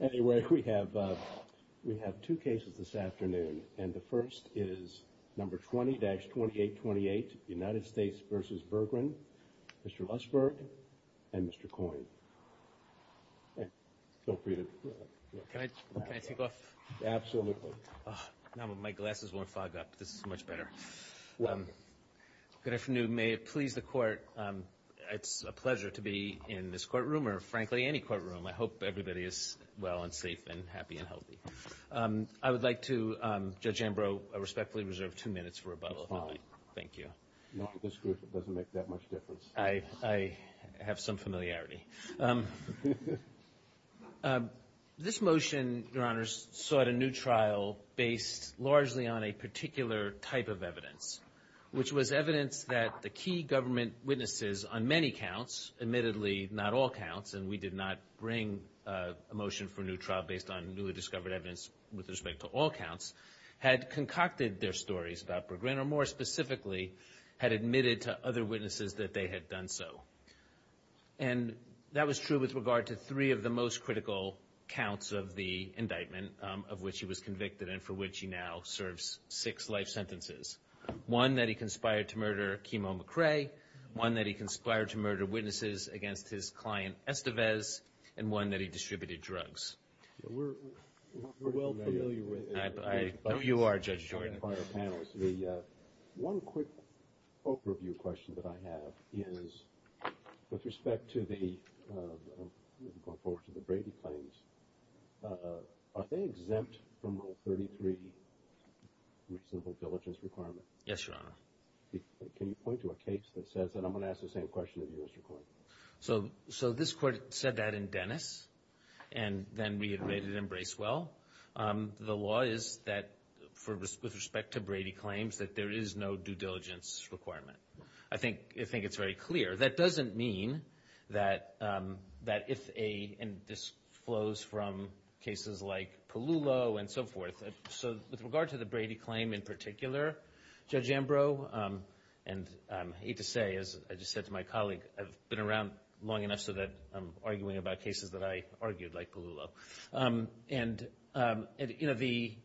Anyway, we have two cases this afternoon, and the first is number 20-2828, United States v. Bergrin, Mr. Lustberg, and Mr. Coyne. Feel free to go ahead. Can I take off? Absolutely. Now my glasses won't fog up. This is much better. Good afternoon. May it please the Court, it's a pleasure to be in this courtroom, or frankly any courtroom. I hope everybody is well and safe and happy and healthy. I would like to, Judge Ambrose, respectfully reserve two minutes for rebuttal. It's fine. Thank you. Not with this group, it doesn't make that much difference. I have some familiarity. This motion, Your Honors, sought a new trial based largely on a particular type of evidence, which was evidence that the key government witnesses on many counts, admittedly not all counts, and we did not bring a motion for a new trial based on newly discovered evidence with respect to all counts, had concocted their stories about Bergrin, or more specifically, had admitted to other witnesses that they had done so. And that was true with regard to three of the most critical counts of the indictment of which he was convicted and for which he now serves six life sentences, one that he conspired to murder Kimo McRae, one that he conspired to murder witnesses against his client, Estevez, and one that he distributed drugs. We're well familiar with it. I know you are, Judge Jordan. One quick overview question that I have is with respect to the, going forward to the Brady claims, are they exempt from Rule 33 with civil diligence requirement? Yes, Your Honor. Can you point to a case that says that? I'm going to ask the same question of you, Mr. Coyne. So this court said that in Dennis and then reiterated in Bracewell. The law is that, with respect to Brady claims, that there is no due diligence requirement. I think it's very clear. That doesn't mean that if a, and this flows from cases like Palullo and so forth. So with regard to the Brady claim in particular, Judge Ambrose, and I hate to say, as I just said to my colleague, I've been around long enough so that I'm arguing about cases that I argued like Palullo. And, you know, the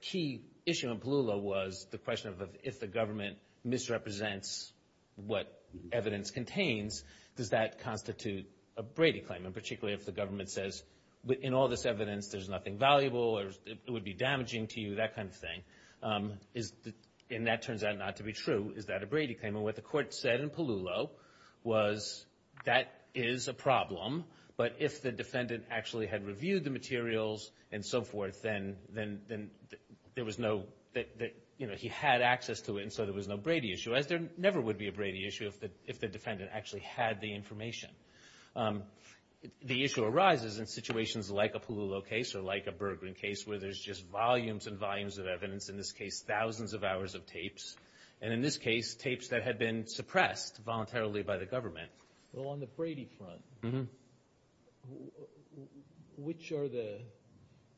key issue in Palullo was the question of if the government misrepresents what evidence contains, does that constitute a Brady claim? And particularly if the government says in all this evidence there's nothing valuable or it would be damaging to you, that kind of thing. And that turns out not to be true. Is that a Brady claim? And what the court said in Palullo was that is a problem, but if the defendant actually had reviewed the materials and so forth, then there was no, you know, he had access to it and so there was no Brady issue, as there never would be a Brady issue if the defendant actually had the information. The issue arises in situations like a Palullo case or like a Bergeron case where there's just volumes and volumes of evidence, in this case thousands of hours of tapes. And in this case, tapes that had been suppressed voluntarily by the government. Well, on the Brady front, which are the,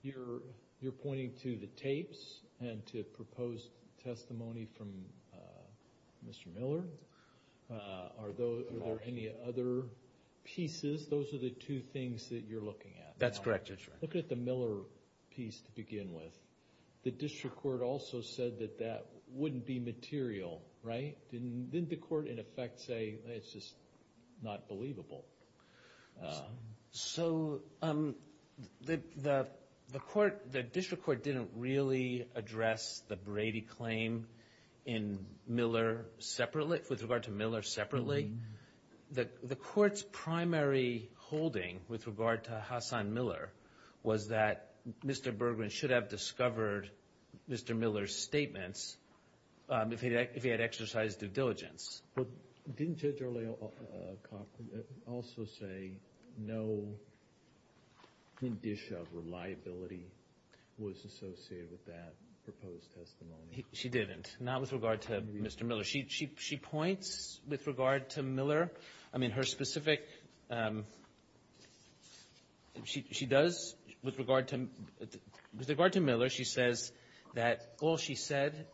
you're pointing to the tapes and to proposed testimony from Mr. Miller. Are there any other pieces? Those are the two things that you're looking at. That's correct, Your Honor. Look at the Miller piece to begin with. The district court also said that that wouldn't be material, right? Didn't the court in effect say it's just not believable? So the court, the district court didn't really address the Brady claim in Miller separately, with regard to Miller separately. The court's primary holding with regard to Hassan Miller was that Mr. Bergeron should have discovered Mr. Miller's statements if he had exercised due diligence. But didn't Judge Arlay also say no condition of reliability was associated with that proposed testimony? She didn't. Not with regard to Mr. Miller. She points with regard to Miller. I mean, her specific, she does, with regard to Miller, she says that all she said,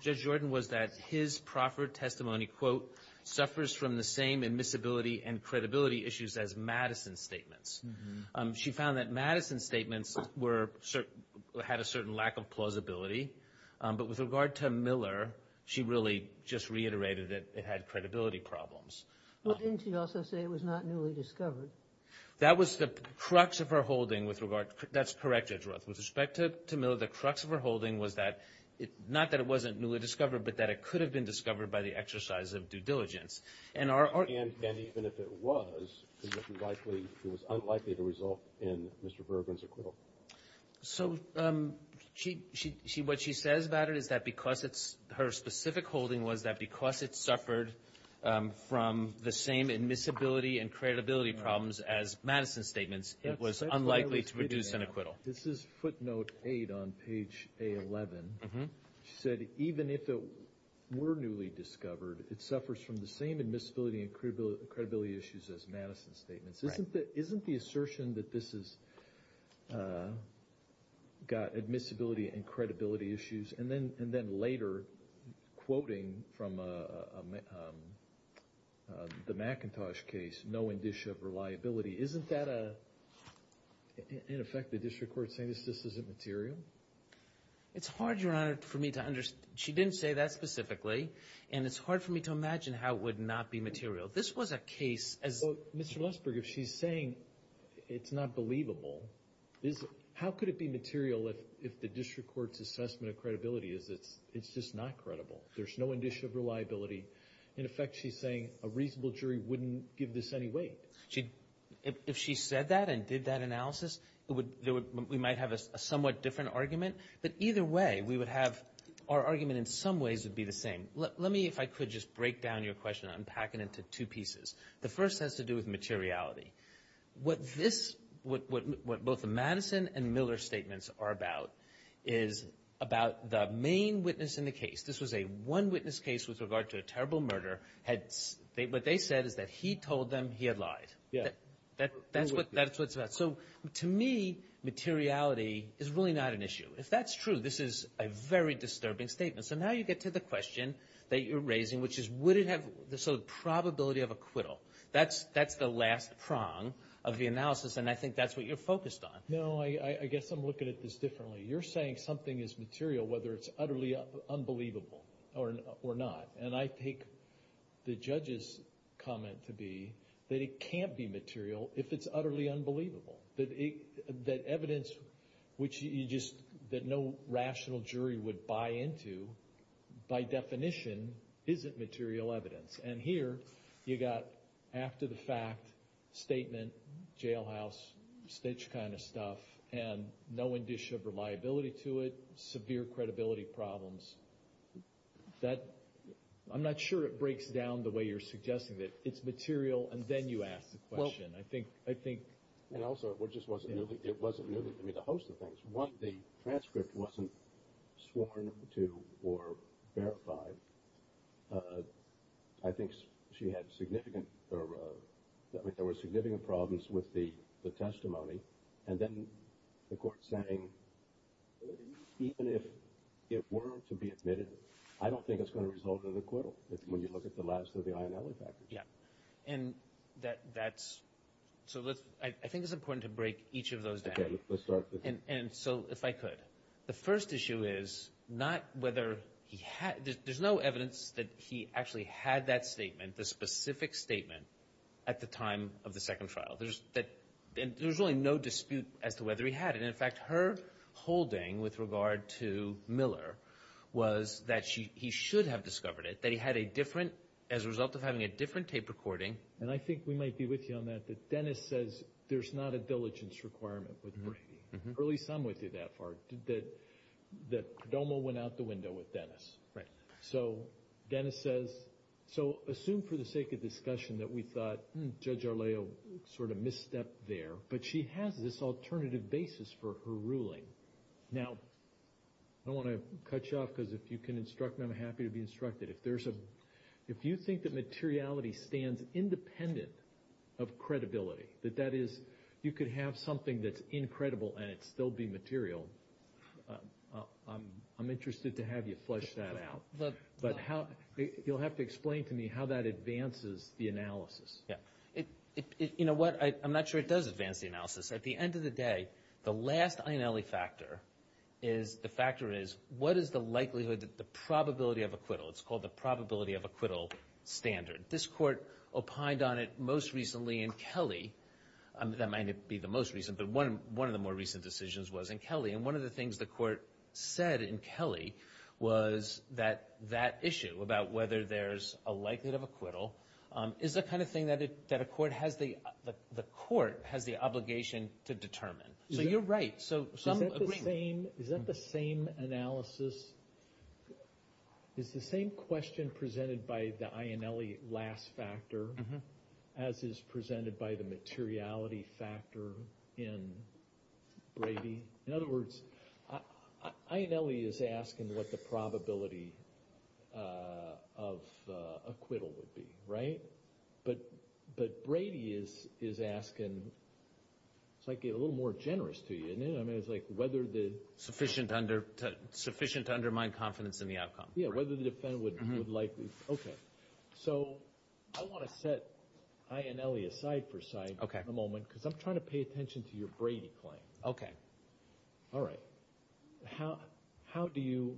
Judge Jordan, was that his proffered testimony, quote, suffers from the same admissibility and credibility issues as Madison's statements. She found that Madison's statements were, had a certain lack of plausibility. But with regard to Miller, she really just reiterated that it had credibility problems. Well, didn't she also say it was not newly discovered? That was the crux of her holding with regard, that's correct, Judge Roth. With respect to Miller, the crux of her holding was that, not that it wasn't newly discovered, but that it could have been discovered by the exercise of due diligence. And even if it was, it was unlikely to result in Mr. Bergeron's acquittal. So what she says about it is that because it's, her specific holding was that because it suffered from the same admissibility and credibility problems as Madison's statements, it was unlikely to produce an acquittal. This is footnote 8 on page A11. She said, even if it were newly discovered, it suffers from the same admissibility and credibility issues as Madison's statements. Isn't the assertion that this has got admissibility and credibility issues, and then later quoting from the McIntosh case, no indicia of reliability, isn't that a, in effect, the district court saying this isn't material? It's hard, Your Honor, for me to understand. She didn't say that specifically, and it's hard for me to imagine how it would not be material. This was a case as— Well, Mr. Lesberg, if she's saying it's not believable, how could it be material if the district court's assessment of credibility is it's just not credible? There's no indicia of reliability. In effect, she's saying a reasonable jury wouldn't give this any weight. If she said that and did that analysis, we might have a somewhat different argument. But either way, we would have, our argument in some ways would be the same. Let me, if I could, just break down your question. I'm packing it into two pieces. The first has to do with materiality. What both the Madison and Miller statements are about is about the main witness in the case. This was a one-witness case with regard to a terrible murder. What they said is that he told them he had lied. That's what it's about. So to me, materiality is really not an issue. If that's true, this is a very disturbing statement. So now you get to the question that you're raising, which is would it have the sort of probability of acquittal. That's the last prong of the analysis, and I think that's what you're focused on. No, I guess I'm looking at this differently. You're saying something is material whether it's utterly unbelievable or not. And I take the judge's comment to be that it can't be material if it's utterly unbelievable, that evidence that no rational jury would buy into, by definition, isn't material evidence. And here you've got after-the-fact statement, jailhouse, stitch kind of stuff, and no indicia of reliability to it, severe credibility problems. I'm not sure it breaks down the way you're suggesting it. It's material, and then you ask the question. And also, it wasn't merely the host of things. One, the transcript wasn't sworn to or verified. I think there were significant problems with the testimony, and then the court saying even if it were to be admitted, I don't think it's going to result in acquittal when you look at the last of the INLE factors. I think it's important to break each of those down. Let's start with that. If I could. The first issue is there's no evidence that he actually had that statement, the specific statement, at the time of the second trial. There was really no dispute as to whether he had it. In fact, her holding with regard to Miller was that he should have discovered it, that he had a different, as a result of having a different tape recording. And I think we might be with you on that, that Dennis says there's not a diligence requirement with Brady. At least I'm with you that far, that Codomo went out the window with Dennis. So Dennis says, so assume for the sake of discussion that we thought Judge Arleo sort of misstepped there, but she has this alternative basis for her ruling. Now, I don't want to cut you off because if you can instruct me, I'm happy to be instructed. If you think that materiality stands independent of credibility, that that is you could have something that's incredible and it still be material, I'm interested to have you flesh that out. But you'll have to explain to me how that advances the analysis. Yeah. You know what? I'm not sure it does advance the analysis. At the end of the day, the last INALE factor is, the factor is what is the likelihood, the probability of acquittal. It's called the probability of acquittal standard. This court opined on it most recently in Kelly. That might not be the most recent, but one of the more recent decisions was in Kelly. And one of the things the court said in Kelly was that that issue about whether there's a likelihood of acquittal is the kind of thing that a court has the obligation to determine. So you're right. Is that the same analysis, is the same question presented by the INALE last factor as is presented by the materiality factor in Brady? In other words, INALE is asking what the probability of acquittal would be, right? But Brady is asking, it's like a little more generous to you, isn't it? I mean, it's like whether the... Sufficient to undermine confidence in the outcome. Yeah, whether the defendant would like... Okay. So I want to set INALE aside for a moment because I'm trying to pay attention to your Brady claim. Okay. All right. How do you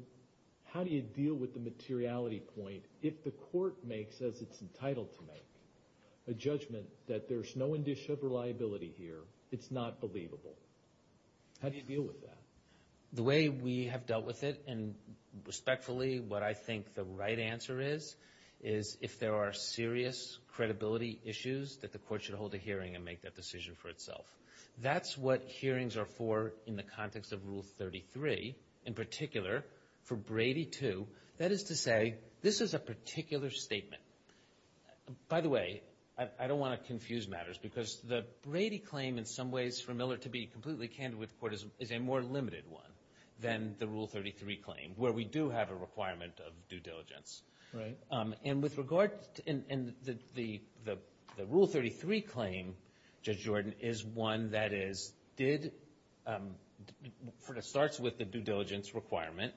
deal with the materiality point if the court makes, as it's entitled to make, a judgment that there's no indicia of reliability here, it's not believable? How do you deal with that? The way we have dealt with it, and respectfully, what I think the right answer is, is if there are serious credibility issues, that the court should hold a hearing and make that decision for itself. That's what hearings are for in the context of Rule 33. In particular, for Brady II, that is to say, this is a particular statement. By the way, I don't want to confuse matters because the Brady claim, in some ways, for Miller to be completely candid with the court is a more limited one than the Rule 33 claim, where we do have a requirement of due diligence. Right. It starts with the due diligence requirement,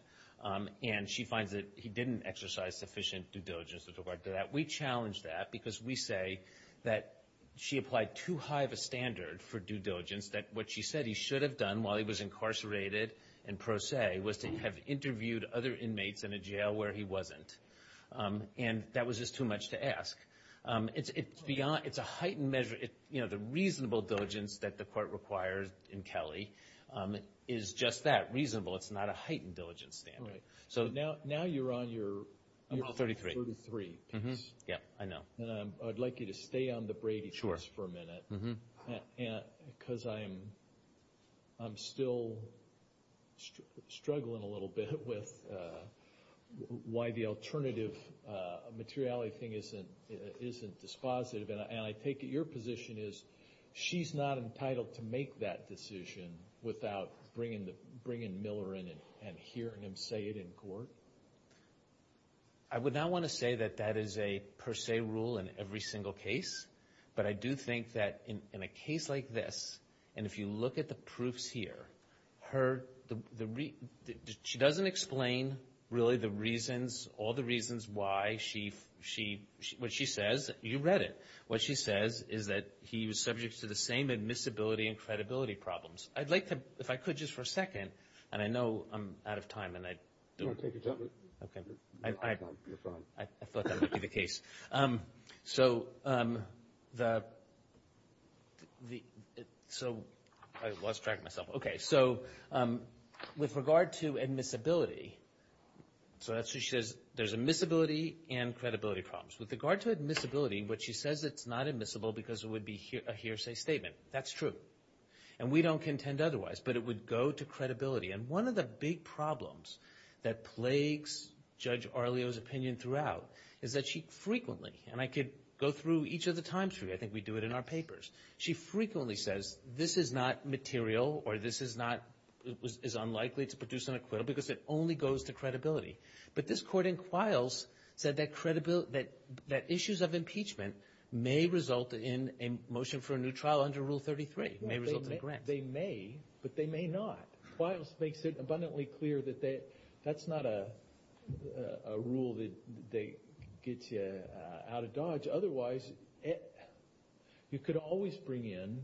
and she finds that he didn't exercise sufficient due diligence with regard to that. We challenge that because we say that she applied too high of a standard for due diligence, that what she said he should have done while he was incarcerated, and pro se was to have interviewed other inmates in a jail where he wasn't. And that was just too much to ask. It's a heightened measure. The reasonable diligence that the court requires in Kelly is just that, reasonable. It's not a heightened diligence standard. Right. Now you're on your Rule 33 piece. Yes, I know. I'd like you to stay on the Brady piece for a minute because I'm still struggling a little bit with why the alternative materiality thing isn't dispositive, and I take it your position is she's not entitled to make that decision without bringing Miller in and hearing him say it in court? I would not want to say that that is a per se rule in every single case, but I do think that in a case like this, and if you look at the proofs here, she doesn't explain really the reasons, all the reasons why. What she says, you read it, what she says is that he was subject to the same admissibility and credibility problems. I'd like to, if I could just for a second, and I know I'm out of time. No, take your time. Okay. You're fine. I thought that would be the case. So I lost track of myself. Okay. So with regard to admissibility, so that's what she says, there's admissibility and credibility problems. With regard to admissibility, what she says, it's not admissible because it would be a hearsay statement. That's true, and we don't contend otherwise, but it would go to credibility, and one of the big problems that plagues Judge Arlio's opinion throughout is that she frequently, and I could go through each of the times for you. I think we do it in our papers. She frequently says this is not material or this is unlikely to produce an acquittal because it only goes to credibility. But this court in Quiles said that issues of impeachment may result in a motion for a new trial under Rule 33, may result in a grant. They may, but they may not. Quiles makes it abundantly clear that that's not a rule that they get you out of dodge. Otherwise, you could always bring in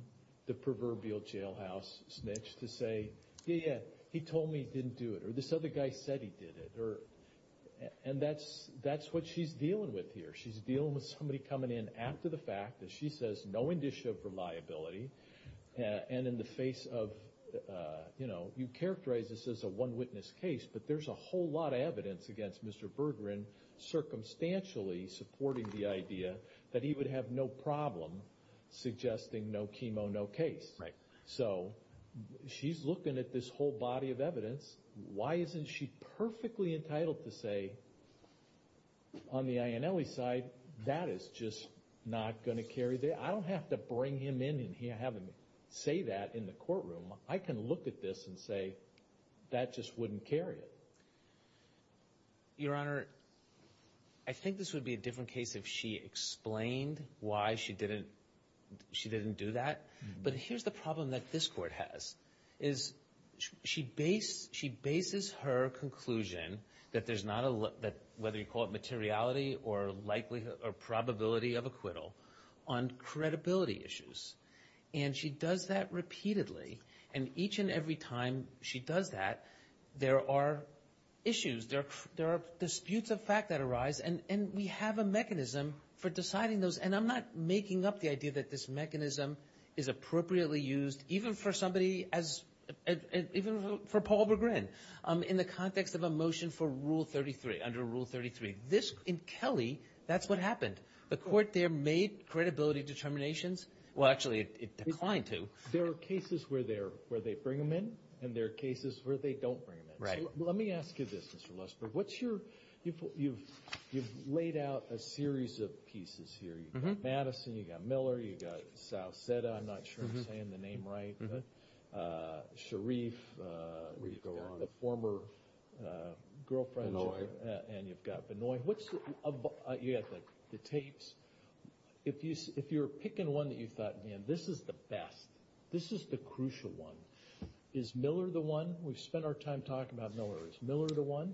the proverbial jailhouse snitch to say, yeah, yeah, he told me he didn't do it, or this other guy said he did it, and that's what she's dealing with here. She's dealing with somebody coming in after the fact, and she says no indicia for liability, and in the face of, you know, you characterize this as a one-witness case, but there's a whole lot of evidence against Mr. Berggren circumstantially supporting the idea that he would have no problem suggesting no chemo, no case. So she's looking at this whole body of evidence. Why isn't she perfectly entitled to say, on the Ionelli side, that is just not going to carry? I don't have to bring him in and have him say that in the courtroom. I can look at this and say that just wouldn't carry it. Your Honor, I think this would be a different case if she explained why she didn't do that. But here's the problem that this Court has, is she bases her conclusion that there's not a, whether you call it materiality or likelihood or probability of acquittal, on credibility issues, and she does that repeatedly, and each and every time she does that, there are issues, there are disputes of fact that arise, and we have a mechanism for deciding those, and I'm not making up the idea that this mechanism is appropriately used even for somebody as, even for Paul Berggren in the context of a motion for Rule 33, under Rule 33. In Kelly, that's what happened. The Court there made credibility determinations. Well, actually, it declined to. There are cases where they bring him in, and there are cases where they don't bring him in. Right. Let me ask you this, Mr. Lesberg. You've laid out a series of pieces here. You've got Madison. You've got Miller. You've got Sauceda. I'm not sure I'm saying the name right. Sharif. You've got the former girlfriend. Benoit. And you've got Benoit. You've got the tapes. If you're picking one that you thought, man, this is the best, this is the crucial one, is Miller the one? We've spent our time talking about Millers. Miller the one?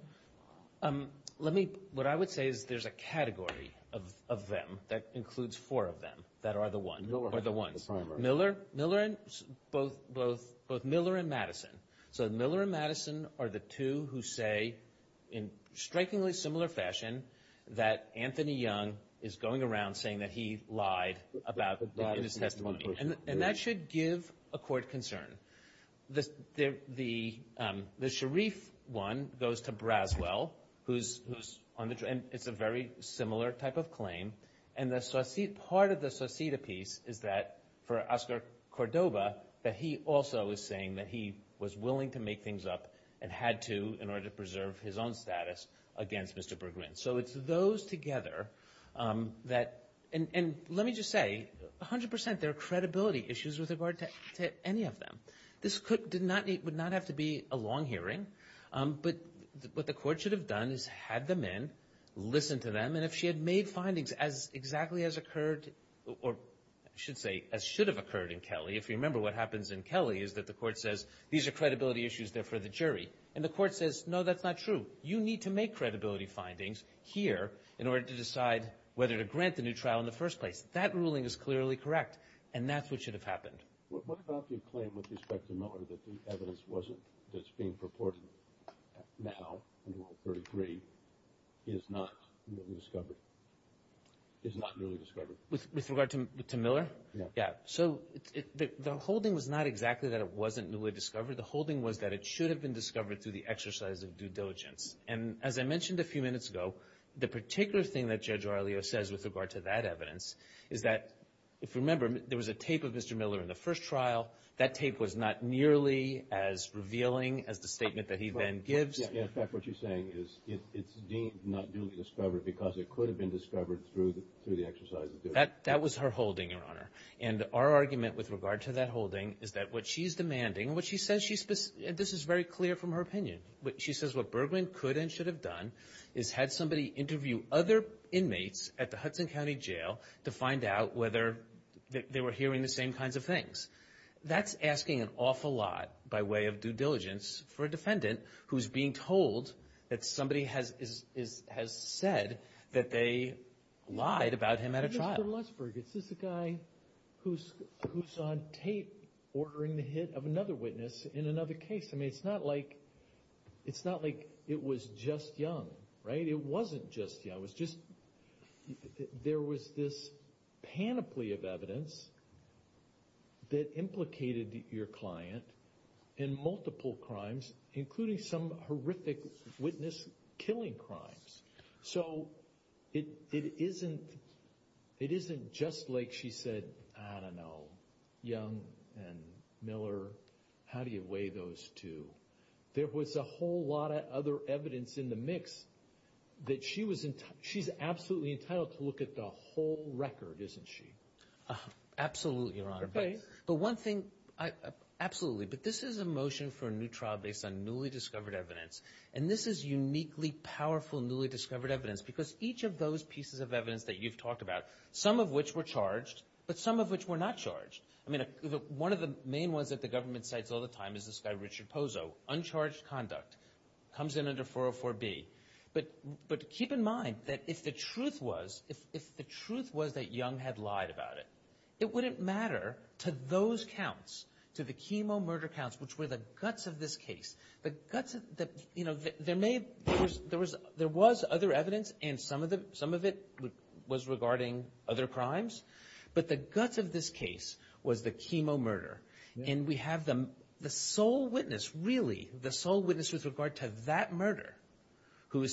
Let me, what I would say is there's a category of them that includes four of them that are the ones. Miller and Madison. So Miller and Madison are the two who say, in strikingly similar fashion, that Anthony Young is going around saying that he lied in his testimony. And that should give a court concern. The Sharif one goes to Braswell, and it's a very similar type of claim. And part of the Sauceda piece is that, for Oscar Cordova, that he also is saying that he was willing to make things up and had to in order to preserve his own status against Mr. Berggren. So it's those together that, and let me just say, a hundred percent there are credibility issues with regard to any of them. This would not have to be a long hearing. But what the court should have done is had them in, listened to them, and if she had made findings as exactly as occurred, or I should say as should have occurred in Kelly, if you remember what happens in Kelly is that the court says, these are credibility issues, they're for the jury. And the court says, no, that's not true. You need to make credibility findings here in order to decide whether to grant the new trial in the first place. That ruling is clearly correct, and that's what should have happened. What about the claim with respect to Miller that the evidence that's being purported now, under Rule 33, is not newly discovered? With regard to Miller? Yeah. So the holding was not exactly that it wasn't newly discovered. The holding was that it should have been discovered through the exercise of due diligence. And as I mentioned a few minutes ago, the particular thing that Judge Aurelio says with regard to that evidence is that, if you remember, there was a tape of Mr. Miller in the first trial. That tape was not nearly as revealing as the statement that he then gives. In fact, what she's saying is it's deemed not newly discovered because it could have been discovered through the exercise of due diligence. That was her holding, Your Honor. And our argument with regard to that holding is that what she's demanding, what she says she's – this is very clear from her opinion. She says what Bergman could and should have done is had somebody interview other inmates at the Hudson County Jail to find out whether they were hearing the same kinds of things. That's asking an awful lot by way of due diligence for a defendant who's being told that somebody has said that they lied about him at a trial. Mr. Lutzberg, is this a guy who's on tape ordering the hit of another witness in another case? I mean, it's not like it was just Young, right? It wasn't just Young. It was just there was this panoply of evidence that implicated your client in multiple crimes, including some horrific witness-killing crimes. So it isn't just like she said, I don't know, Young and Miller, how do you weigh those two? There was a whole lot of other evidence in the mix that she was – she's absolutely entitled to look at the whole record, isn't she? Absolutely, Your Honor. But one thing – absolutely. But this is a motion for a new trial based on newly discovered evidence, and this is uniquely powerful newly discovered evidence because each of those pieces of evidence that you've talked about, some of which were charged but some of which were not charged. I mean, one of the main ones that the government cites all the time is this guy Richard Pozo, uncharged conduct, comes in under 404B. But keep in mind that if the truth was that Young had lied about it, it wouldn't matter to those counts, to the chemo murder counts, which were the guts of this case. You know, there was other evidence, and some of it was regarding other crimes, but the guts of this case was the chemo murder. And we have the sole witness, really, the sole witness with regard to that murder, who,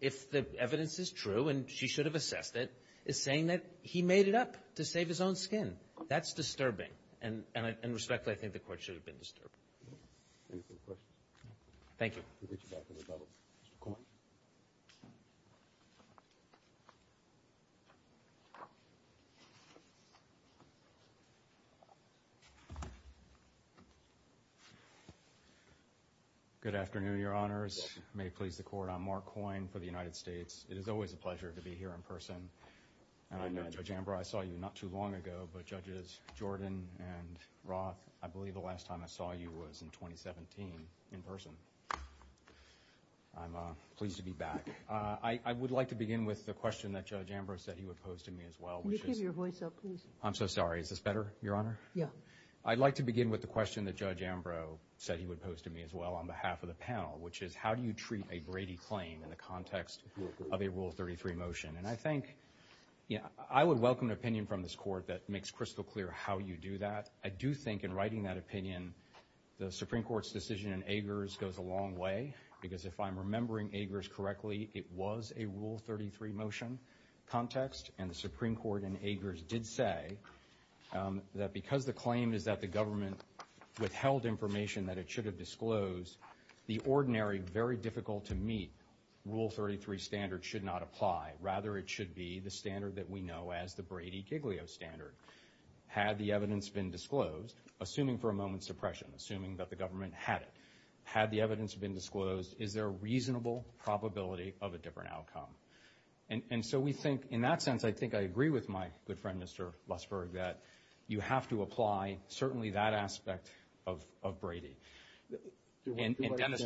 if the evidence is true and she should have assessed it, is saying that he made it up to save his own skin. That's disturbing, and respectfully, I think the Court should have been disturbed. Any further questions? Thank you. We'll get you back to the double. Mr. Coyne. Good afternoon, Your Honors. May it please the Court, I'm Mark Coyne for the United States. It is always a pleasure to be here in person. And I know, Judge Ambrose, I saw you not too long ago, but Judges Jordan and Roth, I believe the last time I saw you was in 2017 in person. I'm pleased to be back. I would like to begin with the question that Judge Ambrose said he would pose to me as well. Can you keep your voice up, please? I'm so sorry. Is this better, Your Honor? Yeah. I'd like to begin with the question that Judge Ambrose said he would pose to me as well on behalf of the panel, which is, how do you treat a Brady claim in the context of a Rule 33 motion? And I think, you know, I would welcome an opinion from this Court that makes crystal clear how you do that. I do think in writing that opinion, the Supreme Court's decision in Agers goes a long way, because if I'm remembering Agers correctly, it was a Rule 33 motion context. And the Supreme Court in Agers did say that because the claim is that the government withheld information that it should have disclosed, the ordinary, very difficult-to-meet Rule 33 standard should not apply, rather it should be the standard that we know as the Brady-Giglio standard. Had the evidence been disclosed, assuming for a moment suppression, assuming that the government had it, had the evidence been disclosed, is there a reasonable probability of a different outcome? And so we think in that sense, I think I agree with my good friend, Mr. Lussberg, that you have to apply certainly that aspect of Brady. And Dennis?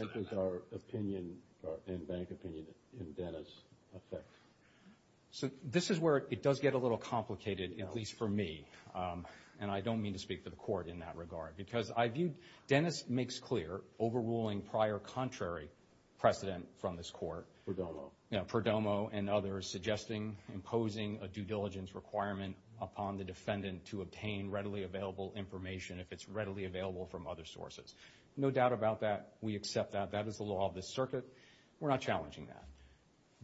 So this is where it does get a little complicated, at least for me, and I don't mean to speak for the Court in that regard, because I view Dennis makes clear, overruling prior contrary precedent from this Court, you know, Perdomo and others, suggesting imposing a due diligence requirement upon the defendant to obtain readily available information if it's readily available from other sources. No doubt about that. We accept that. That is the law of the circuit. We're not challenging that.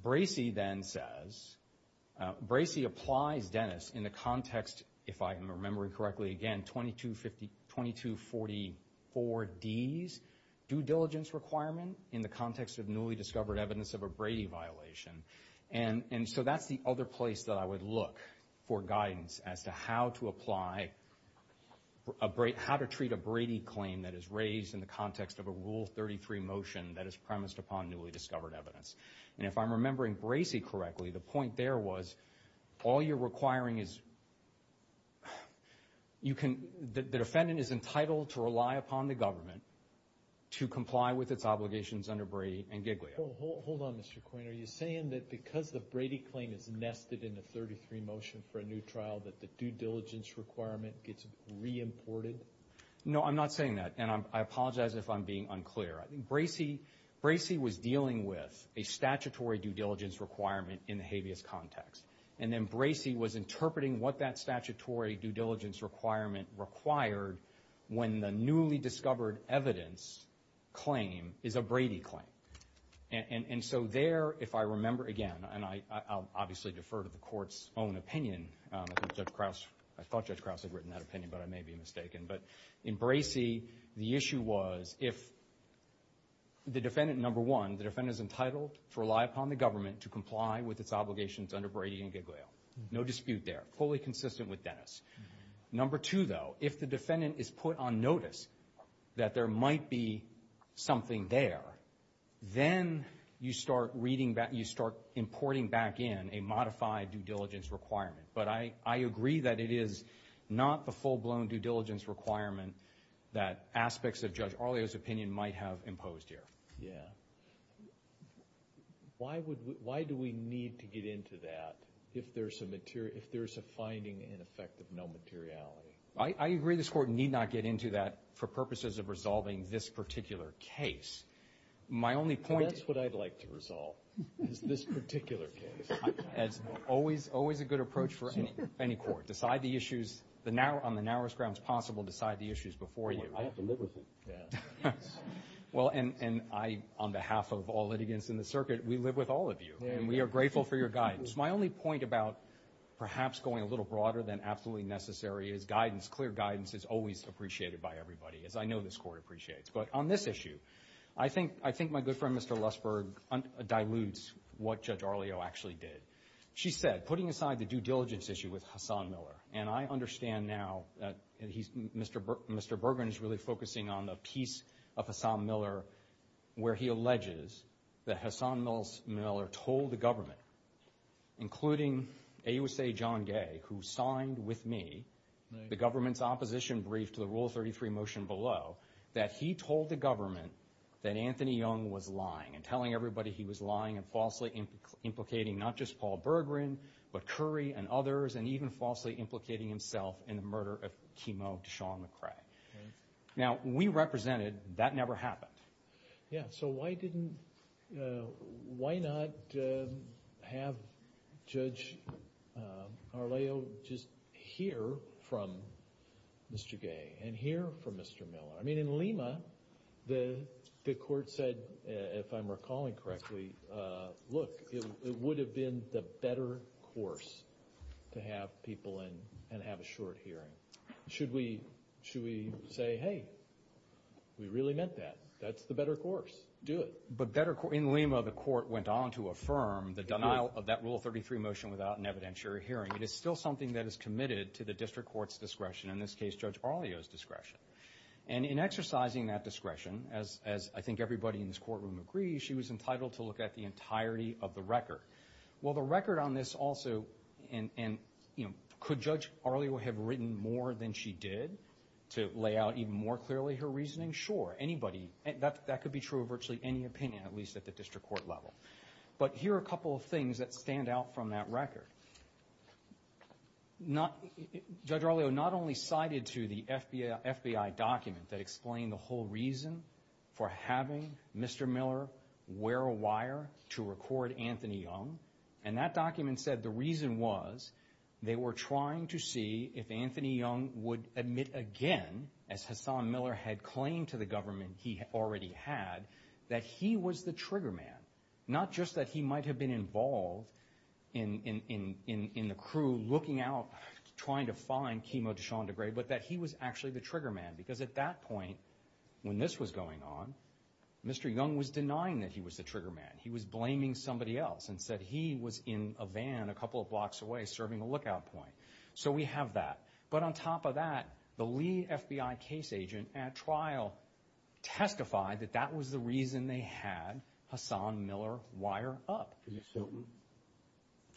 Bracey then says, Bracey applies Dennis in the context, if I remember correctly, again, 2244Ds, due diligence requirement in the context of newly discovered evidence of a Brady violation. And so that's the other place that I would look for guidance as to how to apply, how to treat a Brady claim that is raised in the context of a Rule 33 motion that is premised upon newly discovered evidence. And if I'm remembering Bracey correctly, the point there was all you're requiring is you can, the defendant is entitled to rely upon the government to comply with its obligations under Brady and Giglio. Hold on, Mr. Coyne. Are you saying that because the Brady claim is nested in the 33 motion for a new trial that the due diligence requirement gets reimported? No, I'm not saying that, and I apologize if I'm being unclear. Bracey was dealing with a statutory due diligence requirement in the habeas context, and then Bracey was interpreting what that statutory due diligence requirement required when the newly discovered evidence claim is a Brady claim. And so there, if I remember again, and I'll obviously defer to the Court's own opinion. I thought Judge Krause had written that opinion, but I may be mistaken. But in Bracey, the issue was if the defendant, number one, the defendant is entitled to rely upon the government to comply with its obligations under Brady and Giglio. No dispute there. Fully consistent with Dennis. Number two, though, if the defendant is put on notice that there might be something there, then you start importing back in a modified due diligence requirement. But I agree that it is not the full-blown due diligence requirement that aspects of Judge Arlio's opinion might have imposed here. Yeah. Why do we need to get into that if there's a finding in effect of no materiality? I agree this Court need not get into that for purposes of resolving this particular case. That's what I'd like to resolve, is this particular case. That's always a good approach for any court. Decide the issues on the narrowest grounds possible. Decide the issues before you. I have to live with it. Well, and I, on behalf of all litigants in the circuit, we live with all of you, and we are grateful for your guidance. My only point about perhaps going a little broader than absolutely necessary is guidance. Clear guidance is always appreciated by everybody, as I know this Court appreciates. But on this issue, I think my good friend, Mr. Lussberg, dilutes what Judge Arlio actually did. She said, putting aside the due diligence issue with Hassan Miller, and I understand now that Mr. Berggren is really focusing on the piece of Hassan Miller where he alleges that Hassan Miller told the government, including AUSA John Gay, who signed with me the government's opposition brief to the Rule 33 motion below, that he told the government that Anthony Young was lying and telling everybody he was lying and falsely implicating not just Paul Berggren but Curry and others and even falsely implicating himself in the murder of Kimo Deshaun-McCray. Now, we represented. That never happened. Yeah, so why didn't, why not have Judge Arlio just hear from Mr. Gay and hear from Mr. Miller? I mean, in Lima, the Court said, if I'm recalling correctly, look, it would have been the better course to have people and have a short hearing. Should we say, hey, we really meant that. That's the better course. Do it. But in Lima, the Court went on to affirm the denial of that Rule 33 motion without an evidentiary hearing. It is still something that is committed to the district court's discretion, in this case, Judge Arlio's discretion. And in exercising that discretion, as I think everybody in this courtroom agrees, maybe she was entitled to look at the entirety of the record. Well, the record on this also, and, you know, could Judge Arlio have written more than she did to lay out even more clearly her reasoning? Sure, anybody, that could be true of virtually any opinion, at least at the district court level. But here are a couple of things that stand out from that record. Judge Arlio not only cited to the FBI document that explained the whole reason for having Mr. Miller wear a wire to record Anthony Young, and that document said the reason was they were trying to see if Anthony Young would admit again, as Hassan Miller had claimed to the government he already had, that he was the trigger man. Not just that he might have been involved in the crew looking out, trying to find Kimo DeShanda Gray, but that he was actually the trigger man, because at that point, when this was going on, Mr. Young was denying that he was the trigger man. He was blaming somebody else and said he was in a van a couple of blocks away serving a lookout point. So we have that. But on top of that, the lead FBI case agent at trial testified that that was the reason they had Hassan Miller wire up. Is this Hiltman?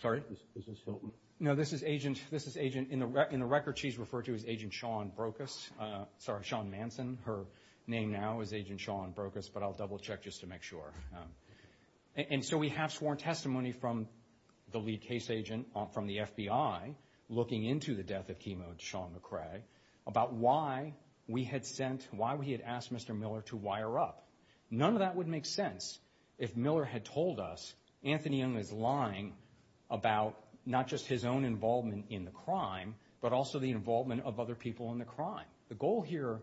Sorry? Is this Hiltman? No, this is Agent. This is Agent. In the record, she's referred to as Agent Sean Brokus. Sorry, Sean Manson. Her name now is Agent Sean Brokus, but I'll double-check just to make sure. And so we have sworn testimony from the lead case agent from the FBI looking into the death of Kimo DeShanda Gray about why we had sent, why we had asked Mr. Miller to wire up. None of that would make sense if Miller had told us Anthony Young was lying about not just his own involvement in the crime, but also the involvement of other people in the crime. The goal here,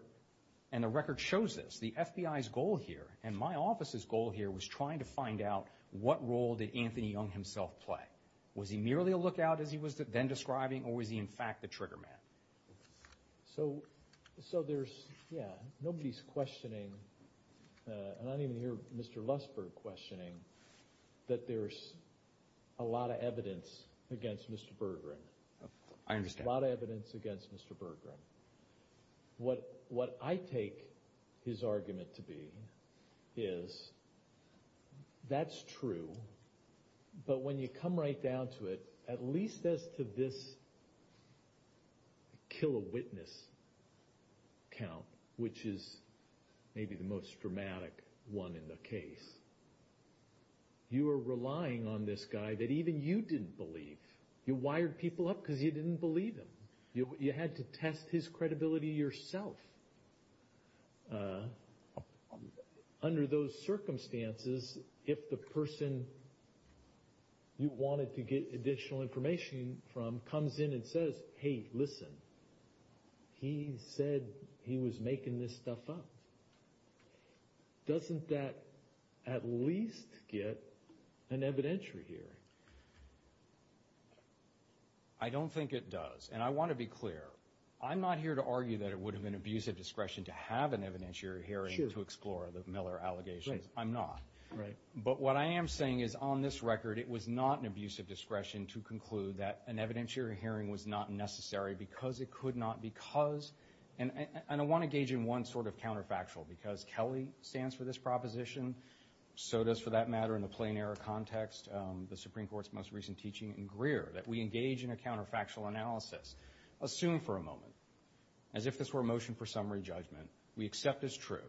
and the record shows this, the FBI's goal here, and my office's goal here, was trying to find out what role did Anthony Young himself play. Was he merely a lookout, as he was then describing, or was he, in fact, the trigger man? So there's, yeah, nobody's questioning, and I don't even hear Mr. Lussberg questioning, that there's a lot of evidence against Mr. Bergeron. I understand. A lot of evidence against Mr. Bergeron. What I take his argument to be is that's true, but when you come right down to it, at least as to this kill-a-witness count, which is maybe the most dramatic one in the case, you are relying on this guy that even you didn't believe. You wired people up because you didn't believe him. You had to test his credibility yourself. Under those circumstances, if the person you wanted to get additional information from comes in and says, hey, listen, he said he was making this stuff up, doesn't that at least get an evidentiary hearing? I don't think it does, and I want to be clear. I'm not here to argue that it would have been an abusive discretion to have an evidentiary hearing to explore the Miller allegations. I'm not. But what I am saying is on this record, it was not an abusive discretion to conclude that an evidentiary hearing was not necessary because it could not, because, and I want to gauge in one sort of counterfactual, because Kelly stands for this proposition, so does, for that matter, in the plain error context, the Supreme Court's most recent teaching in Greer, that we engage in a counterfactual analysis, assume for a moment, as if this were a motion for summary judgment, we accept as true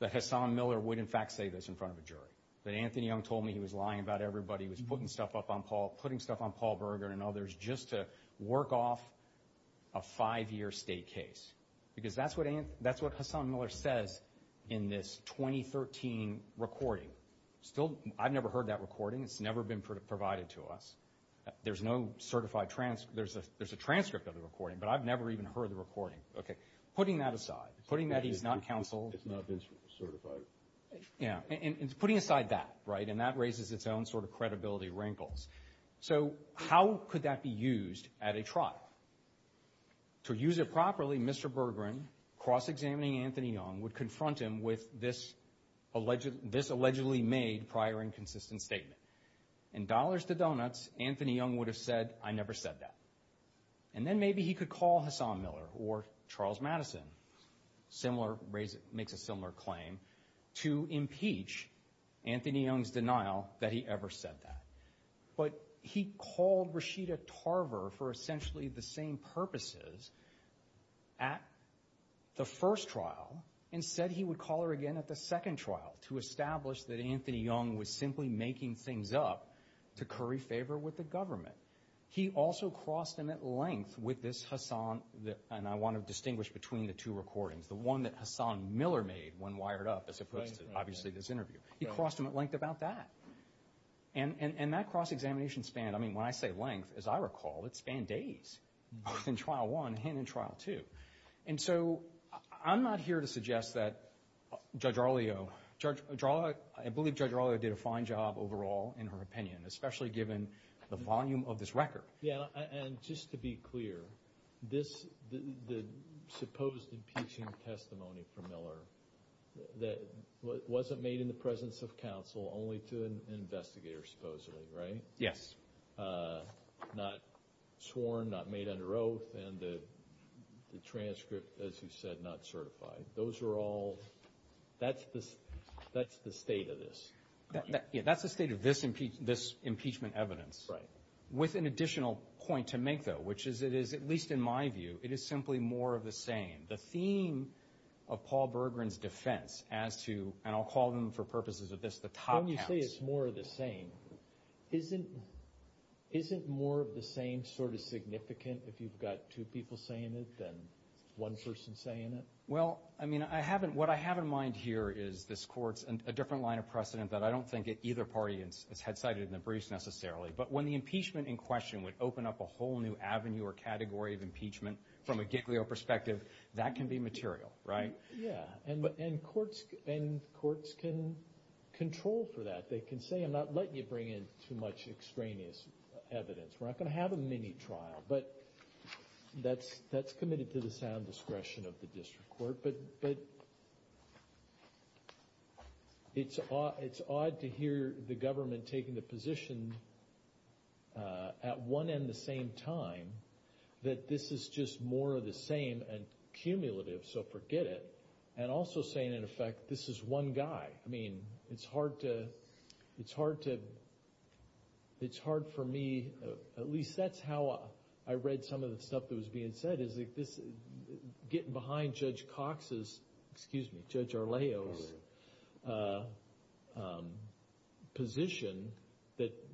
that Hassan Miller would in fact say this in front of a jury, that Anthony Young told me he was lying about everybody, was putting stuff up on Paul, putting stuff on Paul Berger and others just to work off a five-year state case, because that's what Hassan Miller says in this 2013 recording. Still, I've never heard that recording. It's never been provided to us. There's no certified, there's a transcript of the recording, but I've never even heard the recording. Okay, putting that aside, putting that he's not counsel. It's not been certified. Yeah, and putting aside that, right, and that raises its own sort of credibility wrinkles. So how could that be used at a trial? To use it properly, Mr. Berger, cross-examining Anthony Young, would confront him with this allegedly made prior inconsistent statement. In dollars to donuts, Anthony Young would have said, I never said that. And then maybe he could call Hassan Miller or Charles Madison, makes a similar claim, to impeach Anthony Young's denial that he ever said that. But he called Rashida Tarver for essentially the same purposes at the first trial. Instead, he would call her again at the second trial to establish that Anthony Young was simply making things up to curry favor with the government. He also crossed him at length with this Hassan, and I want to distinguish between the two recordings, the one that Hassan Miller made when wired up as opposed to obviously this interview. He crossed him at length about that. And that cross-examination span, I mean, when I say length, as I recall, it spanned days, both in trial one and in trial two. And so I'm not here to suggest that Judge Arlio, I believe Judge Arlio did a fine job overall in her opinion, especially given the volume of this record. Yeah, and just to be clear, this, the supposed impeaching testimony from Miller that wasn't made in the presence of counsel, only to an investigator supposedly, right? Yes. Not sworn, not made under oath, and the transcript, as you said, not certified. Those are all, that's the state of this. Yeah, that's the state of this impeachment evidence. Right. With an additional point to make, though, which is it is, at least in my view, it is simply more of the same. The theme of Paul Berggren's defense as to, and I'll call them for purposes of this, the top counts. When you say it's more of the same, isn't more of the same sort of significant if you've got two people saying it than one person saying it? Well, I mean, I haven't, what I have in mind here is this Court's, a different line of precedent that I don't think at either party is head-sighted in the briefs necessarily. But when the impeachment in question would open up a whole new avenue or category of impeachment from a giglio perspective, that can be material, right? Yeah, and courts can control for that. They can say, I'm not letting you bring in too much extraneous evidence. We're not going to have a mini-trial. But that's committed to the sound discretion of the district court. But it's odd to hear the government taking the position at one and the same time that this is just more of the same and cumulative, so forget it. And also saying, in effect, this is one guy. I mean, it's hard to, it's hard to, it's hard for me, at least that's how I read some of the stuff that was being said, getting behind Judge Cox's, excuse me, Judge Arleo's position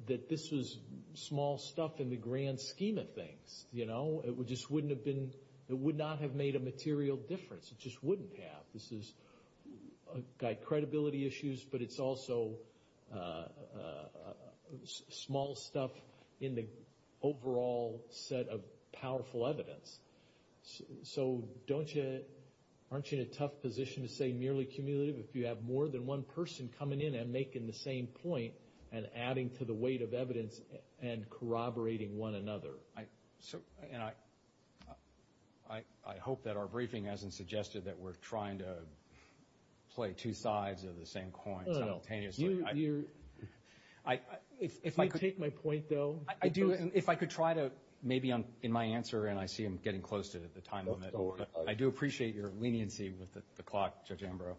that this was small stuff in the grand scheme of things, you know? It just wouldn't have been, it would not have made a material difference. It just wouldn't have. This is a guy, credibility issues, but it's also small stuff in the overall set of powerful evidence. So don't you, aren't you in a tough position to say merely cumulative if you have more than one person coming in and making the same point and adding to the weight of evidence and corroborating one another? And I hope that our briefing hasn't suggested that we're trying to play two sides of the same coin simultaneously. If you take my point, though. I do, and if I could try to, maybe in my answer, and I see I'm getting close to the time limit, but I do appreciate your leniency with the clock, Judge Ambrose.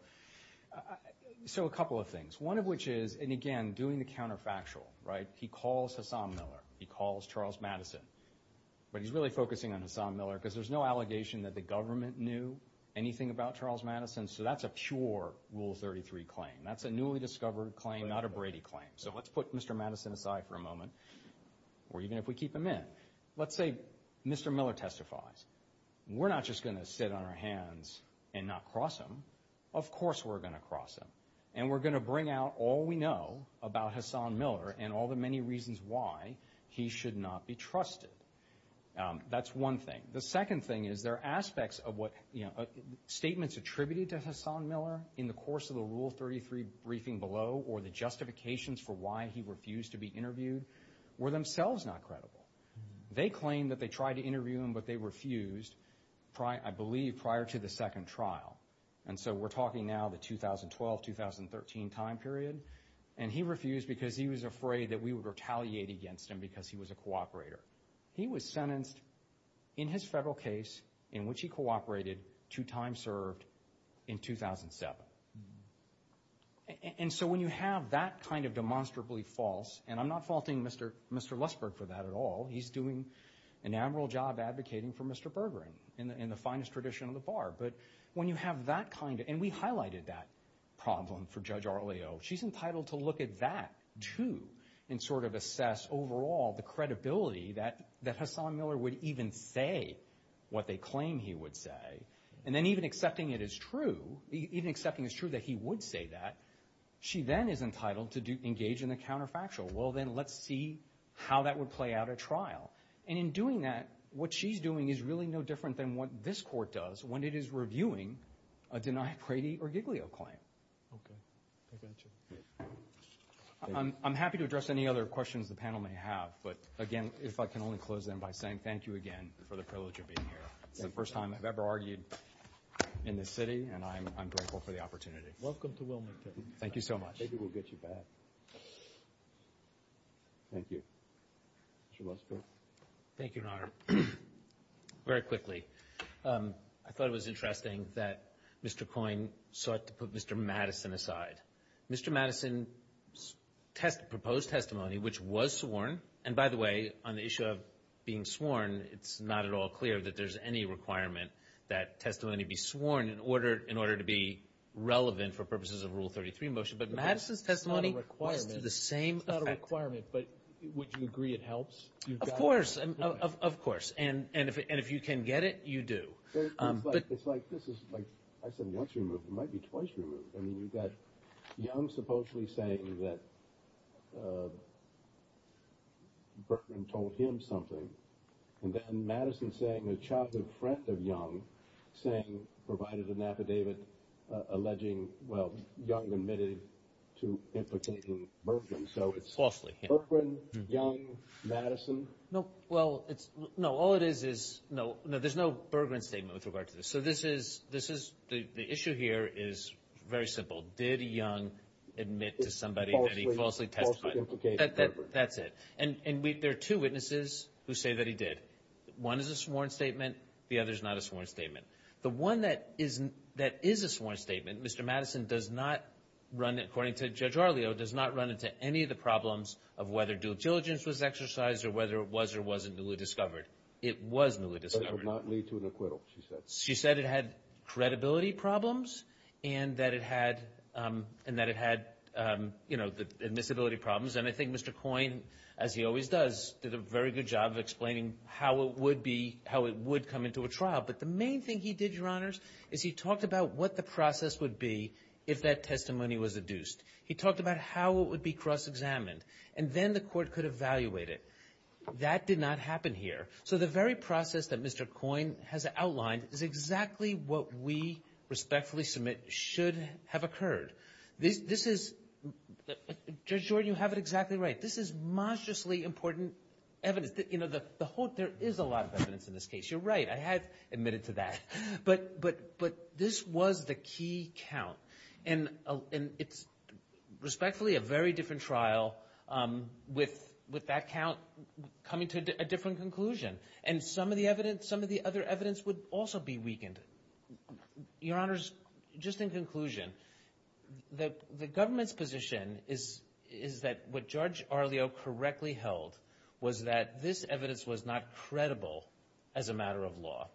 So a couple of things. One of which is, and again, doing the counterfactual, right? He calls Hassam Miller, he calls Charles Madison, but he's really focusing on Hassam Miller because there's no allegation that the government knew anything about Charles Madison, so that's a pure Rule 33 claim. That's a newly discovered claim, not a Brady claim. So let's put Mr. Madison aside for a moment, or even if we keep him in. Let's say Mr. Miller testifies. We're not just going to sit on our hands and not cross him. Of course we're going to cross him, and we're going to bring out all we know about Hassam Miller and all the many reasons why he should not be trusted. That's one thing. The second thing is there are aspects of what statements attributed to Hassam Miller in the course of the Rule 33 briefing below, or the justifications for why he refused to be interviewed, were themselves not credible. They claimed that they tried to interview him, but they refused, I believe, prior to the second trial. And so we're talking now the 2012-2013 time period, and he refused because he was afraid that we would retaliate against him because he was a cooperator. He was sentenced in his federal case, in which he cooperated, two times served, in 2007. And so when you have that kind of demonstrably false, and I'm not faulting Mr. Lustberg for that at all. He's doing an admirable job advocating for Mr. Bergeron in the finest tradition of the bar. But when you have that kind of – and we highlighted that problem for Judge Arleo. She's entitled to look at that too and sort of assess overall the credibility that Hassam Miller would even say what they claim he would say. And then even accepting it is true, even accepting it's true that he would say that, she then is entitled to engage in the counterfactual. Well, then let's see how that would play out at trial. And in doing that, what she's doing is really no different than what this Court does when it is reviewing a denied Brady or Giglio claim. Okay. I got you. I'm happy to address any other questions the panel may have. But again, if I can only close then by saying thank you again for the privilege of being here. It's the first time I've ever argued in this city, and I'm grateful for the opportunity. Welcome to Wilmington. Thank you so much. Maybe we'll get you back. Thank you. Mr. Lustberg. Thank you, Your Honor. Very quickly, I thought it was interesting that Mr. Coyne sought to put Mr. Madison aside. Mr. Madison's proposed testimony, which was sworn, and by the way, on the issue of being sworn, it's not at all clear that there's any requirement that testimony be sworn in order to be relevant for purposes of Rule 33 motion. But Madison's testimony was to the same effect. It's not a requirement, but would you agree it helps? Of course. And if you can get it, you do. It's like this is, like I said, once removed. It might be twice removed. I mean, you've got Young supposedly saying that Berggruen told him something, and then Madison saying a childhood friend of Young saying, provided an affidavit alleging, well, Young admitted to implicating Berggruen. So it's Berggruen, Young, Madison? No, well, no, all it is is, no, there's no Berggruen statement with regard to this. So this is, the issue here is very simple. Did Young admit to somebody that he falsely testified? That's it. And there are two witnesses who say that he did. One is a sworn statement. The other is not a sworn statement. The one that is a sworn statement, Mr. Madison does not run, according to Judge Arlio, does not run into any of the problems of whether due diligence was exercised or whether it was or wasn't newly discovered. It was newly discovered. But it would not lead to an acquittal, she said. She said it had credibility problems and that it had admissibility problems. And I think Mr. Coyne, as he always does, did a very good job of explaining how it would be, how it would come into a trial. But the main thing he did, Your Honors, is he talked about what the process would be if that testimony was adduced. He talked about how it would be cross-examined, and then the court could evaluate it. That did not happen here. So the very process that Mr. Coyne has outlined is exactly what we respectfully submit should have occurred. Judge Jordan, you have it exactly right. This is monstrously important evidence. There is a lot of evidence in this case. You're right. I have admitted to that. But this was the key count. And it's respectfully a very different trial with that count coming to a different conclusion. And some of the other evidence would also be weakened. Your Honors, just in conclusion, the government's position is that what Judge Arlio correctly held was that this evidence was not credible as a matter of law.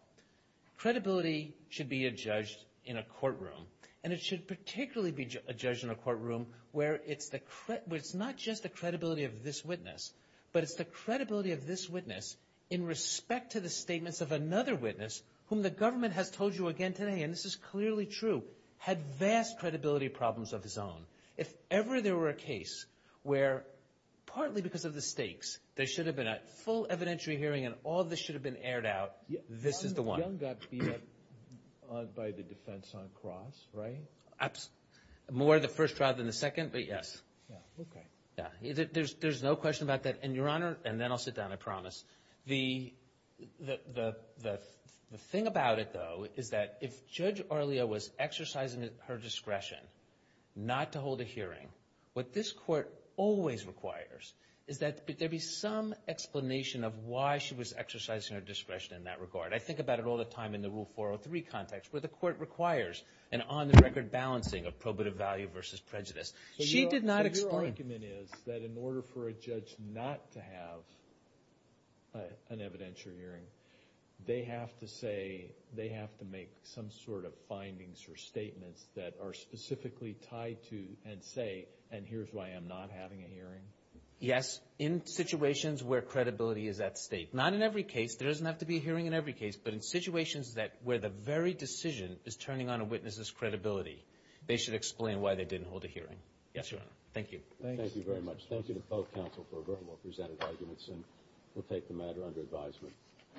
Credibility should be adjudged in a courtroom. And it should particularly be adjudged in a courtroom where it's not just the credibility of this witness, but it's the credibility of this witness in respect to the statements of another witness whom the government has told you again today, and this is clearly true, had vast credibility problems of his own. If ever there were a case where, partly because of the stakes, there should have been a full evidentiary hearing and all this should have been aired out, this is the one. Young got beat up by the defense on Cross, right? More of the first trial than the second, but yes. There's no question about that. And Your Honor, and then I'll sit down, I promise, the thing about it though is that if Judge Arlio was exercising her discretion not to hold a hearing, what this court always requires is that there be some explanation of why she was exercising her discretion in that regard. I think about it all the time in the Rule 403 context where the court requires an on-the-record balancing of probative value versus prejudice. She did not explain... But your argument is that in order for a judge not to have an evidentiary hearing, they have to say, they have to make some sort of findings or statements that are specifically tied to and say, and here's why I'm not having a hearing. Yes, in situations where credibility is at stake. Not in every case. There doesn't have to be a hearing in every case, but in situations where the very decision is turning on a witness's credibility, they should explain why they didn't hold a hearing. Yes, Your Honor. Thank you. Thank you very much. Thank you to both counsel for a very well-presented arguments, and we'll take the matter under advisement.